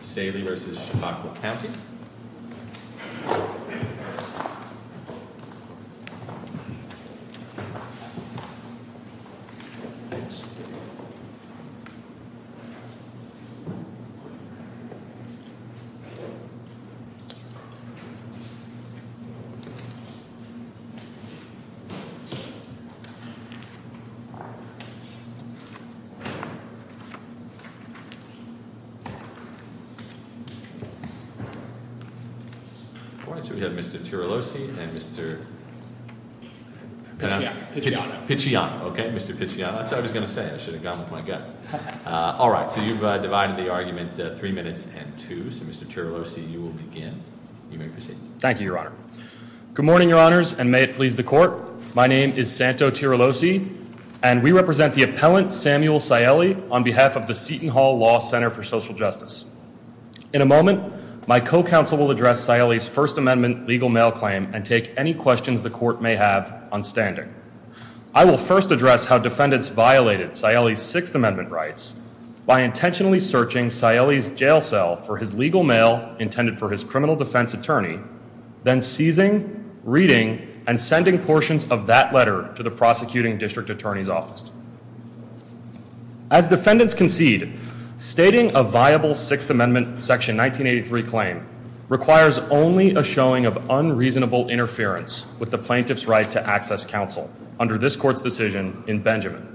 Saeli v. Chautauqua County Mr. Tirolosi and Mr. Picciano Mr. Picciano You've divided the argument three minutes and two Mr. Tirolosi, you may proceed Thank you, Your Honor Good morning, Your Honors, and may it please the Court My name is Santo Tirolosi and we represent the appellant Samuel Saeli on behalf of the Seton Hall Law Center for Social Justice In a moment, my co-counsel will address Saeli's First Amendment legal mail claim and take any questions the Court may have on standing I will first address how defendants violated Saeli's Sixth Amendment rights by intentionally searching Saeli's jail cell for his legal mail intended for his criminal defense attorney then seizing, reading, and sending portions of that letter to the prosecuting district attorney's office As defendants concede, stating a viable Sixth Amendment Section 1983 claim requires only a showing of unreasonable interference with the plaintiff's right to access counsel under this Court's decision in Benjamin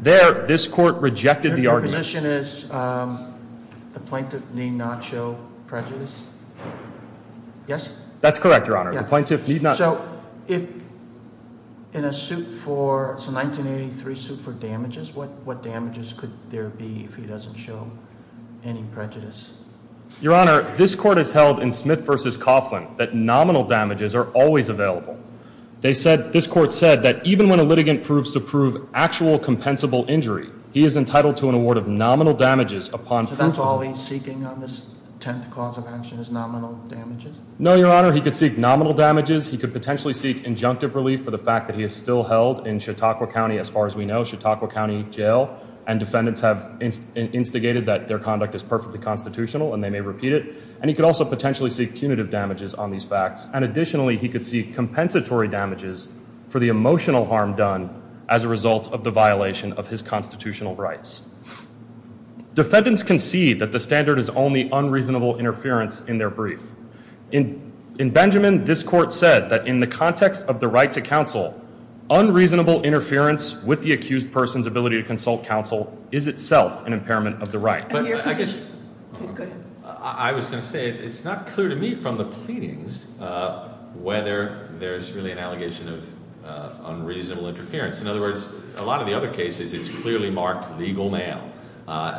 There, this Court rejected the argument Your position is the plaintiff need not show prejudice? Yes? That's correct, Your Honor, the plaintiff need not So if in a suit for, it's a 1983 suit for damages what damages could there be if he doesn't show any prejudice? Your Honor, this Court has held in Smith v. Coughlin that nominal damages are always available This Court said that even when a litigant proves to prove actual compensable injury he is entitled to an award of nominal damages upon proof of So that's all he's seeking on this 10th cause of action is nominal damages? No, Your Honor, he could seek nominal damages he could potentially seek injunctive relief for the fact that he is still held in Chautauqua County, as far as we know, Chautauqua County Jail and defendants have instigated that their conduct is perfectly constitutional and they may repeat it and he could also potentially seek punitive damages on these facts and additionally he could seek compensatory damages for the emotional harm done as a result of the violation of his constitutional rights Defendants concede that the standard is only unreasonable interference in their brief In Benjamin, this Court said that in the context of the right to counsel unreasonable interference with the accused person's ability to consult counsel is itself an impairment of the right I was going to say it's not clear to me from the pleadings whether there's really an allegation of unreasonable interference In other words, a lot of the other cases it's clearly marked legal mail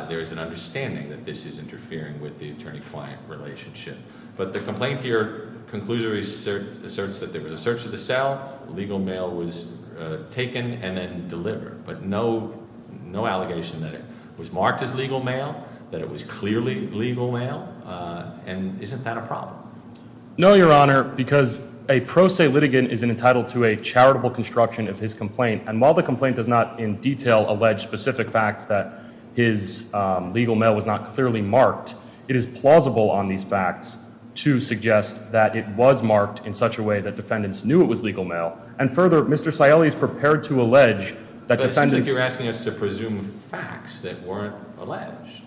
There's an understanding that this is interfering with the attorney-client relationship but the complaint here conclusively asserts that there was a search of the cell legal mail was taken and then delivered but no allegation that it was marked as legal mail that it was clearly legal mail and isn't that a problem? No, Your Honor, because a pro se litigant is entitled to a charitable construction of his complaint and while the complaint does not in detail allege specific facts that his legal mail was not clearly marked it is plausible on these facts to suggest that it was marked in such a way that defendants knew it was legal mail and further, Mr. Scioli is prepared to allege that defendants But it seems like you're asking us to presume facts that weren't alleged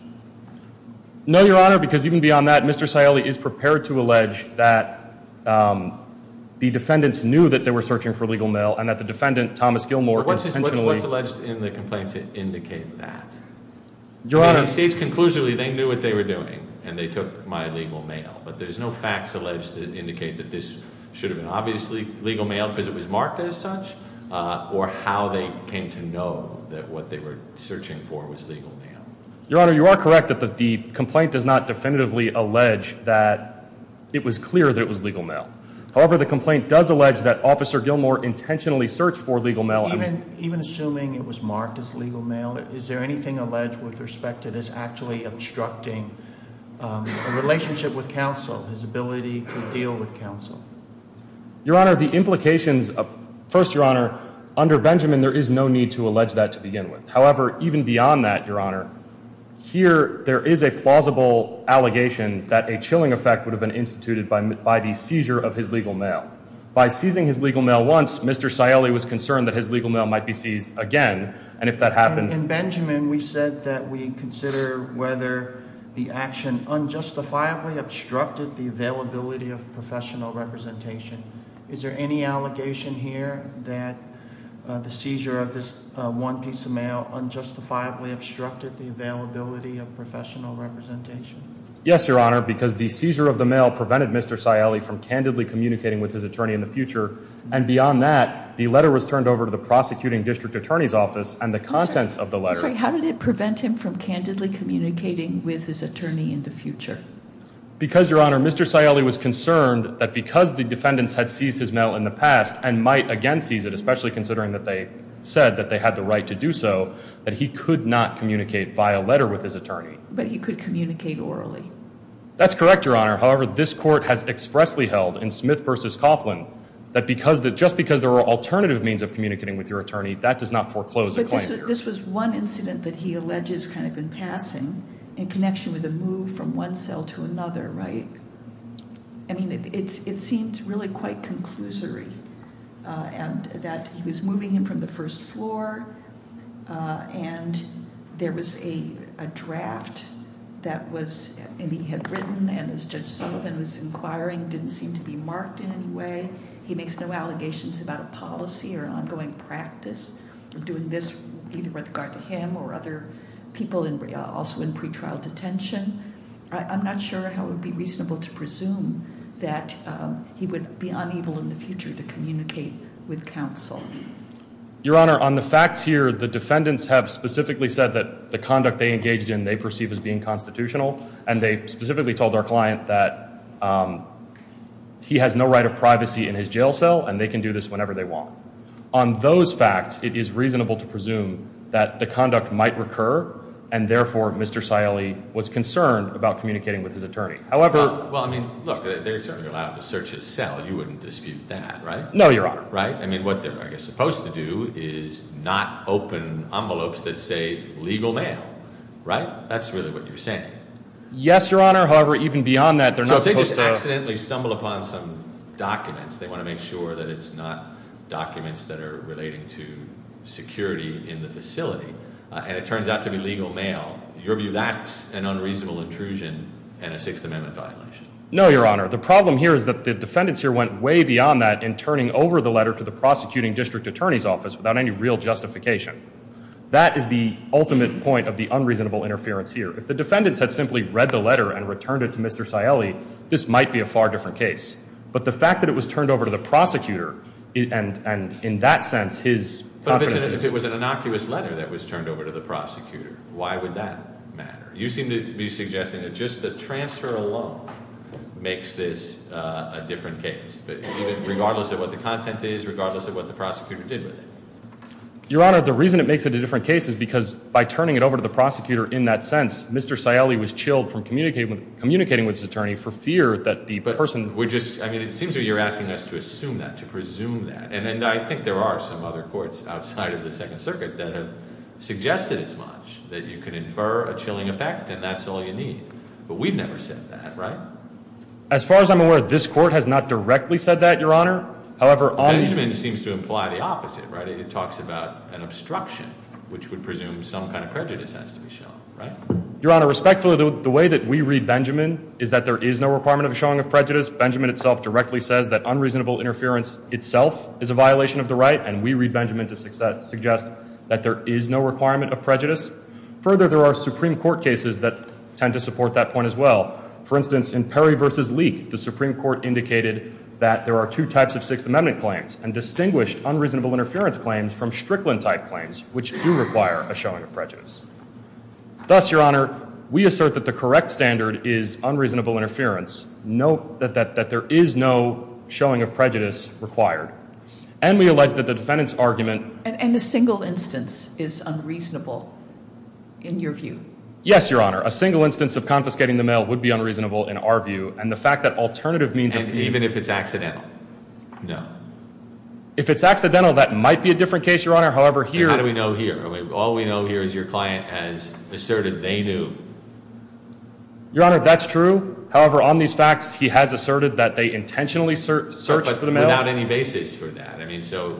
No, Your Honor, because even beyond that, Mr. Scioli is prepared to allege that the defendants knew that they were searching for legal mail and that the defendant, Thomas Gilmore, intentionally What's alleged in the complaint to indicate that? Your Honor States conclusively they knew what they were doing and they took my legal mail but there's no facts alleged to indicate that this should have been obviously legal mail because it was marked as such or how they came to know that what they were searching for was legal mail Your Honor, you are correct that the complaint does not definitively allege that it was clear that it was legal mail However, the complaint does allege that Officer Gilmore intentionally searched for legal mail Even assuming it was marked as legal mail is there anything alleged with respect to this actually obstructing a relationship with counsel his ability to deal with counsel? Your Honor, the implications of First, Your Honor, under Benjamin there is no need to allege that to begin with However, even beyond that, Your Honor here there is a plausible allegation that a chilling effect would have been instituted by the seizure of his legal mail By seizing his legal mail once, Mr. Scioli was concerned that his legal mail might be seized again and if that happened In Benjamin we said that we consider whether the action unjustifiably obstructed the availability of professional representation Is there any allegation here that the seizure of this one piece of mail unjustifiably obstructed the availability of professional representation? Yes, Your Honor, because the seizure of the mail prevented Mr. Scioli from candidly communicating with his attorney in the future and beyond that, the letter was turned over to the prosecuting district attorney's office and the contents of the letter I'm sorry, how did it prevent him from candidly communicating with his attorney in the future? Because, Your Honor, Mr. Scioli was concerned that because the defendants had seized his mail in the past and might again seize it, especially considering that they said that they had the right to do so that he could not communicate via letter with his attorney But he could communicate orally That's correct, Your Honor, however, this court has expressly held in Smith v. Coughlin that just because there are alternative means of communicating with your attorney, that does not foreclose a claim But this was one incident that he alleges kind of in passing in connection with a move from one cell to another, right? I mean, it seems really quite conclusory and that he was moving him from the first floor and there was a draft that was, and he had written and as Judge Sullivan was inquiring, didn't seem to be marked in any way He makes no allegations about a policy or ongoing practice of doing this either with regard to him or other people also in pretrial detention I'm not sure how it would be reasonable to presume that he would be unable in the future to communicate with counsel Your Honor, on the facts here, the defendants have specifically said that the conduct they engaged in they perceive as being constitutional and they specifically told our client that he has no right of privacy in his jail cell and they can do this whenever they want On those facts, it is reasonable to presume that the conduct might recur and therefore, Mr. Scioli was concerned about communicating with his attorney Well, I mean, look, they're certainly allowed to search his cell, you wouldn't dispute that, right? No, Your Honor I mean, what they're supposed to do is not open envelopes that say legal mail, right? That's really what you're saying Yes, Your Honor, however, even beyond that, they're not supposed to So they just accidentally stumble upon some documents They want to make sure that it's not documents that are relating to security in the facility and it turns out to be legal mail In your view, that's an unreasonable intrusion and a Sixth Amendment violation No, Your Honor, the problem here is that the defendants here went way beyond that in turning over the letter to the prosecuting district attorney's office without any real justification That is the ultimate point of the unreasonable interference here If the defendants had simply read the letter and returned it to Mr. Scioli this might be a far different case But the fact that it was turned over to the prosecutor and in that sense, his confidence If it was an innocuous letter that was turned over to the prosecutor why would that matter? You seem to be suggesting that just the transfer alone makes this a different case regardless of what the content is, regardless of what the prosecutor did with it Your Honor, the reason it makes it a different case is because by turning it over to the prosecutor in that sense Mr. Scioli was chilled from communicating with his attorney for fear that the person I mean, it seems that you're asking us to assume that, to presume that And I think there are some other courts outside of the Second Circuit that have suggested as much that you can infer a chilling effect and that's all you need But we've never said that, right? As far as I'm aware, this court has not directly said that, Your Honor Benjamin seems to imply the opposite, right? It talks about an obstruction, which would presume some kind of prejudice has to be shown, right? Your Honor, respectfully, the way that we read Benjamin is that there is no requirement of showing of prejudice Benjamin itself directly says that unreasonable interference itself is a violation of the right and we read Benjamin to suggest that there is no requirement of prejudice Further, there are Supreme Court cases that tend to support that point as well For instance, in Perry v. Leek, the Supreme Court indicated that there are two types of Sixth Amendment claims and distinguished unreasonable interference claims from Strickland-type claims which do require a showing of prejudice Thus, Your Honor, we assert that the correct standard is unreasonable interference Note that there is no showing of prejudice required And we allege that the defendant's argument And a single instance is unreasonable in your view? Yes, Your Honor, a single instance of confiscating the mail would be unreasonable in our view And the fact that alternative means Even if it's accidental? No If it's accidental, that might be a different case, Your Honor How do we know here? All we know here is your client has asserted they knew Your Honor, that's true However, on these facts, he has asserted that they intentionally searched for the mail But without any basis for that I mean, so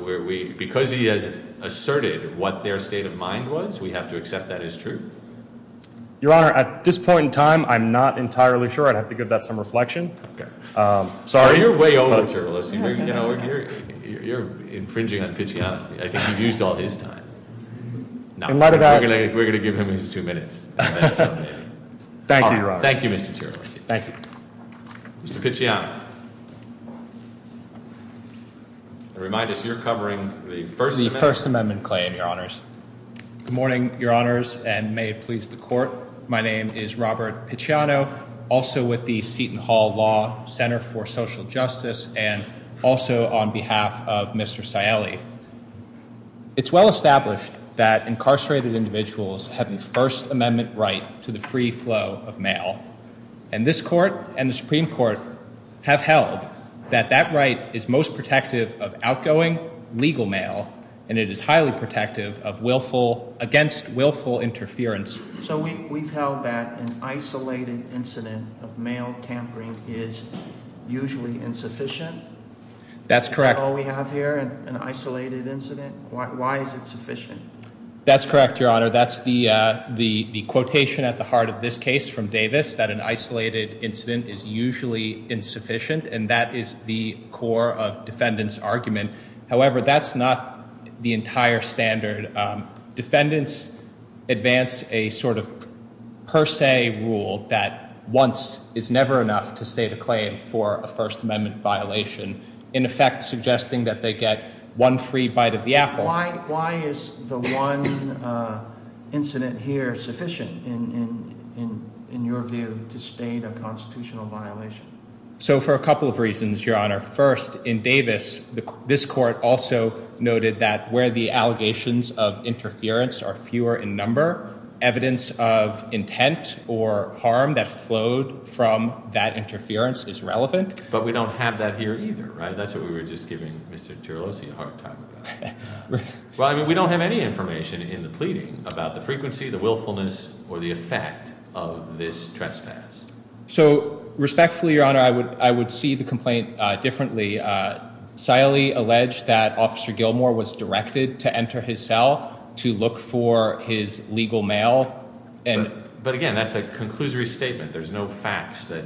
because he has asserted what their state of mind was, we have to accept that as true? Your Honor, at this point in time, I'm not entirely sure I'd have to give that some reflection Sorry No, you're way over, Charles You're infringing on Pichiano I think you've used all his time No, we're going to give him his two minutes Thank you, Your Honor Thank you, Mr. Tierney Thank you Mr. Pichiano Remind us you're covering the First Amendment The First Amendment claim, Your Honors Good morning, Your Honors, and may it please the Court My name is Robert Pichiano Also with the Seton Hall Law Center for Social Justice And also on behalf of Mr. Saielli It's well established that incarcerated individuals have the First Amendment right to the free flow of mail And this Court and the Supreme Court have held that that right is most protective of outgoing legal mail And it is highly protective against willful interference So we've held that an isolated incident of mail tampering is usually insufficient? That's correct That's all we have here, an isolated incident? Why is it sufficient? That's correct, Your Honor That's the quotation at the heart of this case from Davis That an isolated incident is usually insufficient And that is the core of defendants' argument However, that's not the entire standard Defendants advance a sort of per se rule that once is never enough to state a claim for a First Amendment violation In effect suggesting that they get one free bite of the apple Why is the one incident here sufficient in your view to state a constitutional violation? So for a couple of reasons, Your Honor First, in Davis, this Court also noted that where the allegations of interference are fewer in number Evidence of intent or harm that flowed from that interference is relevant But we don't have that here either, right? That's what we were just giving Mr. Jeralosi a hard time about Well, I mean, we don't have any information in the pleading about the frequency, the willfulness, or the effect of this trespass So respectfully, Your Honor, I would see the complaint differently Siley alleged that Officer Gilmore was directed to enter his cell to look for his legal mail But again, that's a conclusory statement There's no facts that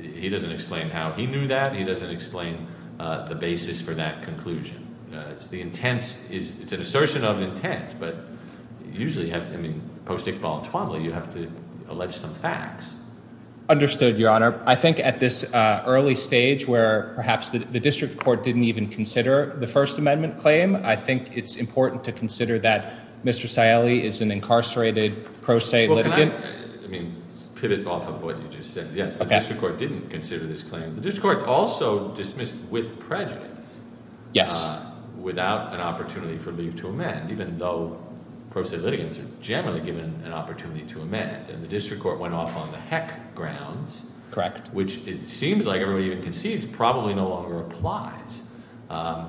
he doesn't explain how he knew that He doesn't explain the basis for that conclusion It's the intent, it's an assertion of intent But usually, I mean, post-Iqbal and Twombly, you have to allege some facts Understood, Your Honor I think at this early stage where perhaps the District Court didn't even consider the First Amendment claim I think it's important to consider that Mr. Siley is an incarcerated pro se litigant Well, can I, I mean, pivot off of what you just said Yes, the District Court didn't consider this claim The District Court also dismissed with prejudice Yes Without an opportunity for leave to amend Even though pro se litigants are generally given an opportunity to amend And the District Court went off on the heck grounds Correct Which it seems like everybody even concedes probably no longer applies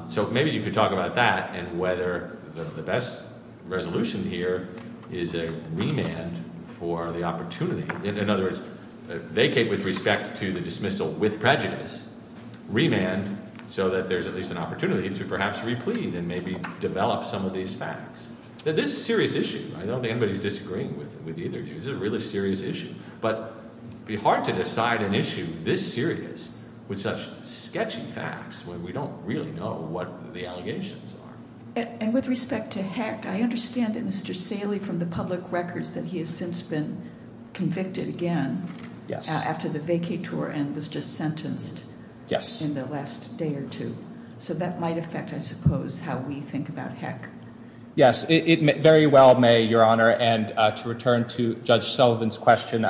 So maybe you could talk about that And whether the best resolution here is a remand for the opportunity In other words, vacate with respect to the dismissal with prejudice Remand so that there's at least an opportunity to perhaps replete and maybe develop some of these facts This is a serious issue I don't think anybody's disagreeing with either of you This is a really serious issue But it'd be hard to decide an issue this serious With such sketchy facts when we don't really know what the allegations are And with respect to heck, I understand that Mr. Siley from the public records That he has since been convicted again Yes After the vacate tour and was just sentenced Yes In the last day or two So that might affect, I suppose, how we think about heck Yes, it very well may, Your Honor And to return to Judge Sullivan's question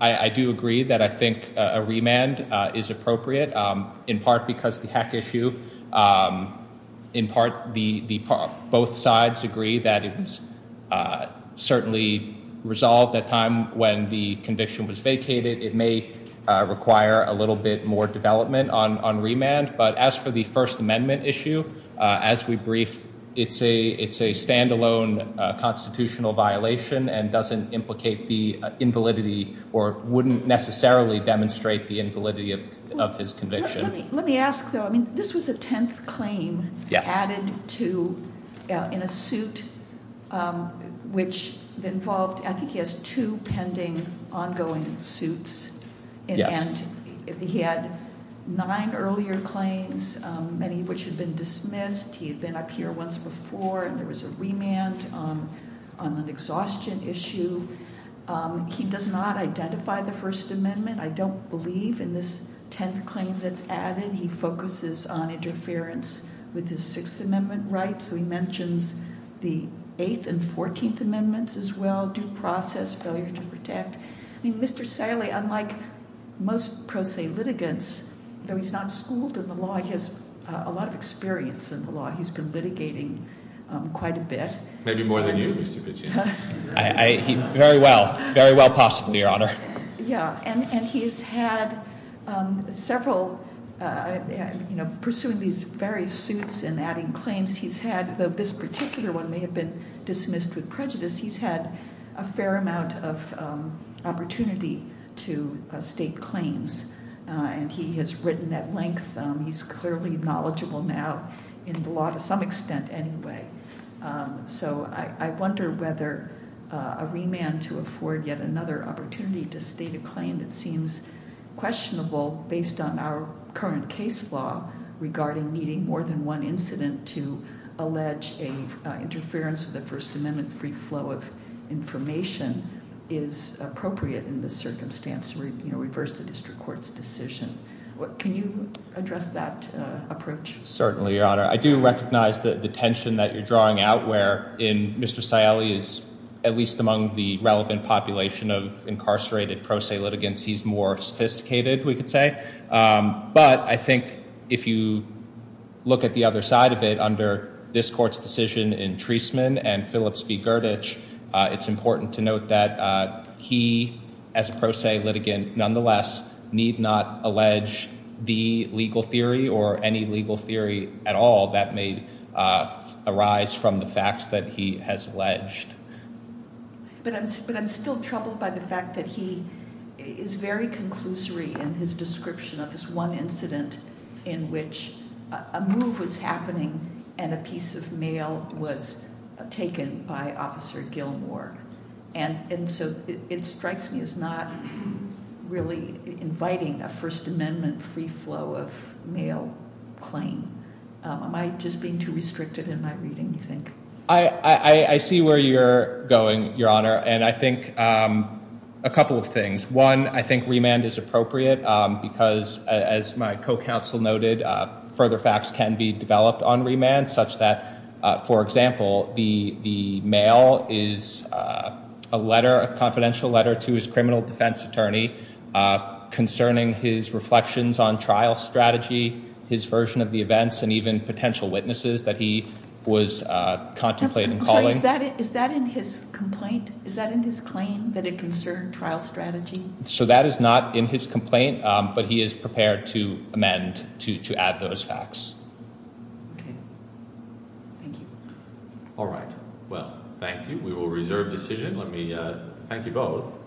I do agree that I think a remand is appropriate In part because the heck issue In part, both sides agree that it was certainly resolved at time when the conviction was vacated It may require a little bit more development on remand But as for the First Amendment issue As we brief, it's a standalone constitutional violation And doesn't implicate the invalidity Or wouldn't necessarily demonstrate the invalidity of his conviction Let me ask, though I mean, this was a tenth claim added to In a suit which involved I think he has two pending ongoing suits Yes And he had nine earlier claims Many of which had been dismissed He had been up here once before And there was a remand on an exhaustion issue He does not identify the First Amendment I don't believe in this tenth claim that's added He focuses on interference with his Sixth Amendment rights So he mentions the Eighth and Fourteenth Amendments as well Due process, failure to protect I mean, Mr. Saleh, unlike most pro se litigants Though he's not schooled in the law He has a lot of experience in the law He's been litigating quite a bit Maybe more than you, Mr. Pichino Very well, very well possibly, Your Honor Yeah, and he's had several You know, pursuing these various suits And adding claims He's had, though this particular one May have been dismissed with prejudice He's had a fair amount of opportunity to state claims And he has written at length He's clearly knowledgeable now In the law to some extent anyway So I wonder whether a remand to afford yet another opportunity To state a claim that seems questionable Based on our current case law Regarding needing more than one incident To allege an interference with the First Amendment Free flow of information Is appropriate in this circumstance To reverse the district court's decision Can you address that approach? Certainly, Your Honor I do recognize the tension that you're drawing out Where Mr. Saleh is at least among the relevant population Of incarcerated pro se litigants He's more sophisticated, we could say But I think if you look at the other side of it Under this court's decision in Treisman And Phillips v. Gurditch It's important to note that he, as a pro se litigant Nonetheless, need not allege the legal theory Or any legal theory at all That may arise from the facts that he has alleged But I'm still troubled by the fact that he Is very conclusory in his description Of this one incident in which a move was happening And a piece of mail was taken by Officer Gilmore And so it strikes me as not really inviting A First Amendment free flow of mail claim Am I just being too restricted in my reading, you think? I see where you're going, Your Honor And I think a couple of things One, I think remand is appropriate Because, as my co-counsel noted Further facts can be developed on remand Such that, for example, the mail is a letter A confidential letter to his criminal defense attorney Concerning his reflections on trial strategy His version of the events And even potential witnesses that he was contemplating calling Is that in his complaint? Is that in his claim that it concerned trial strategy? So that is not in his complaint But he is prepared to amend, to add those facts Okay, thank you All right, well, thank you We will reserve decision Let me thank you both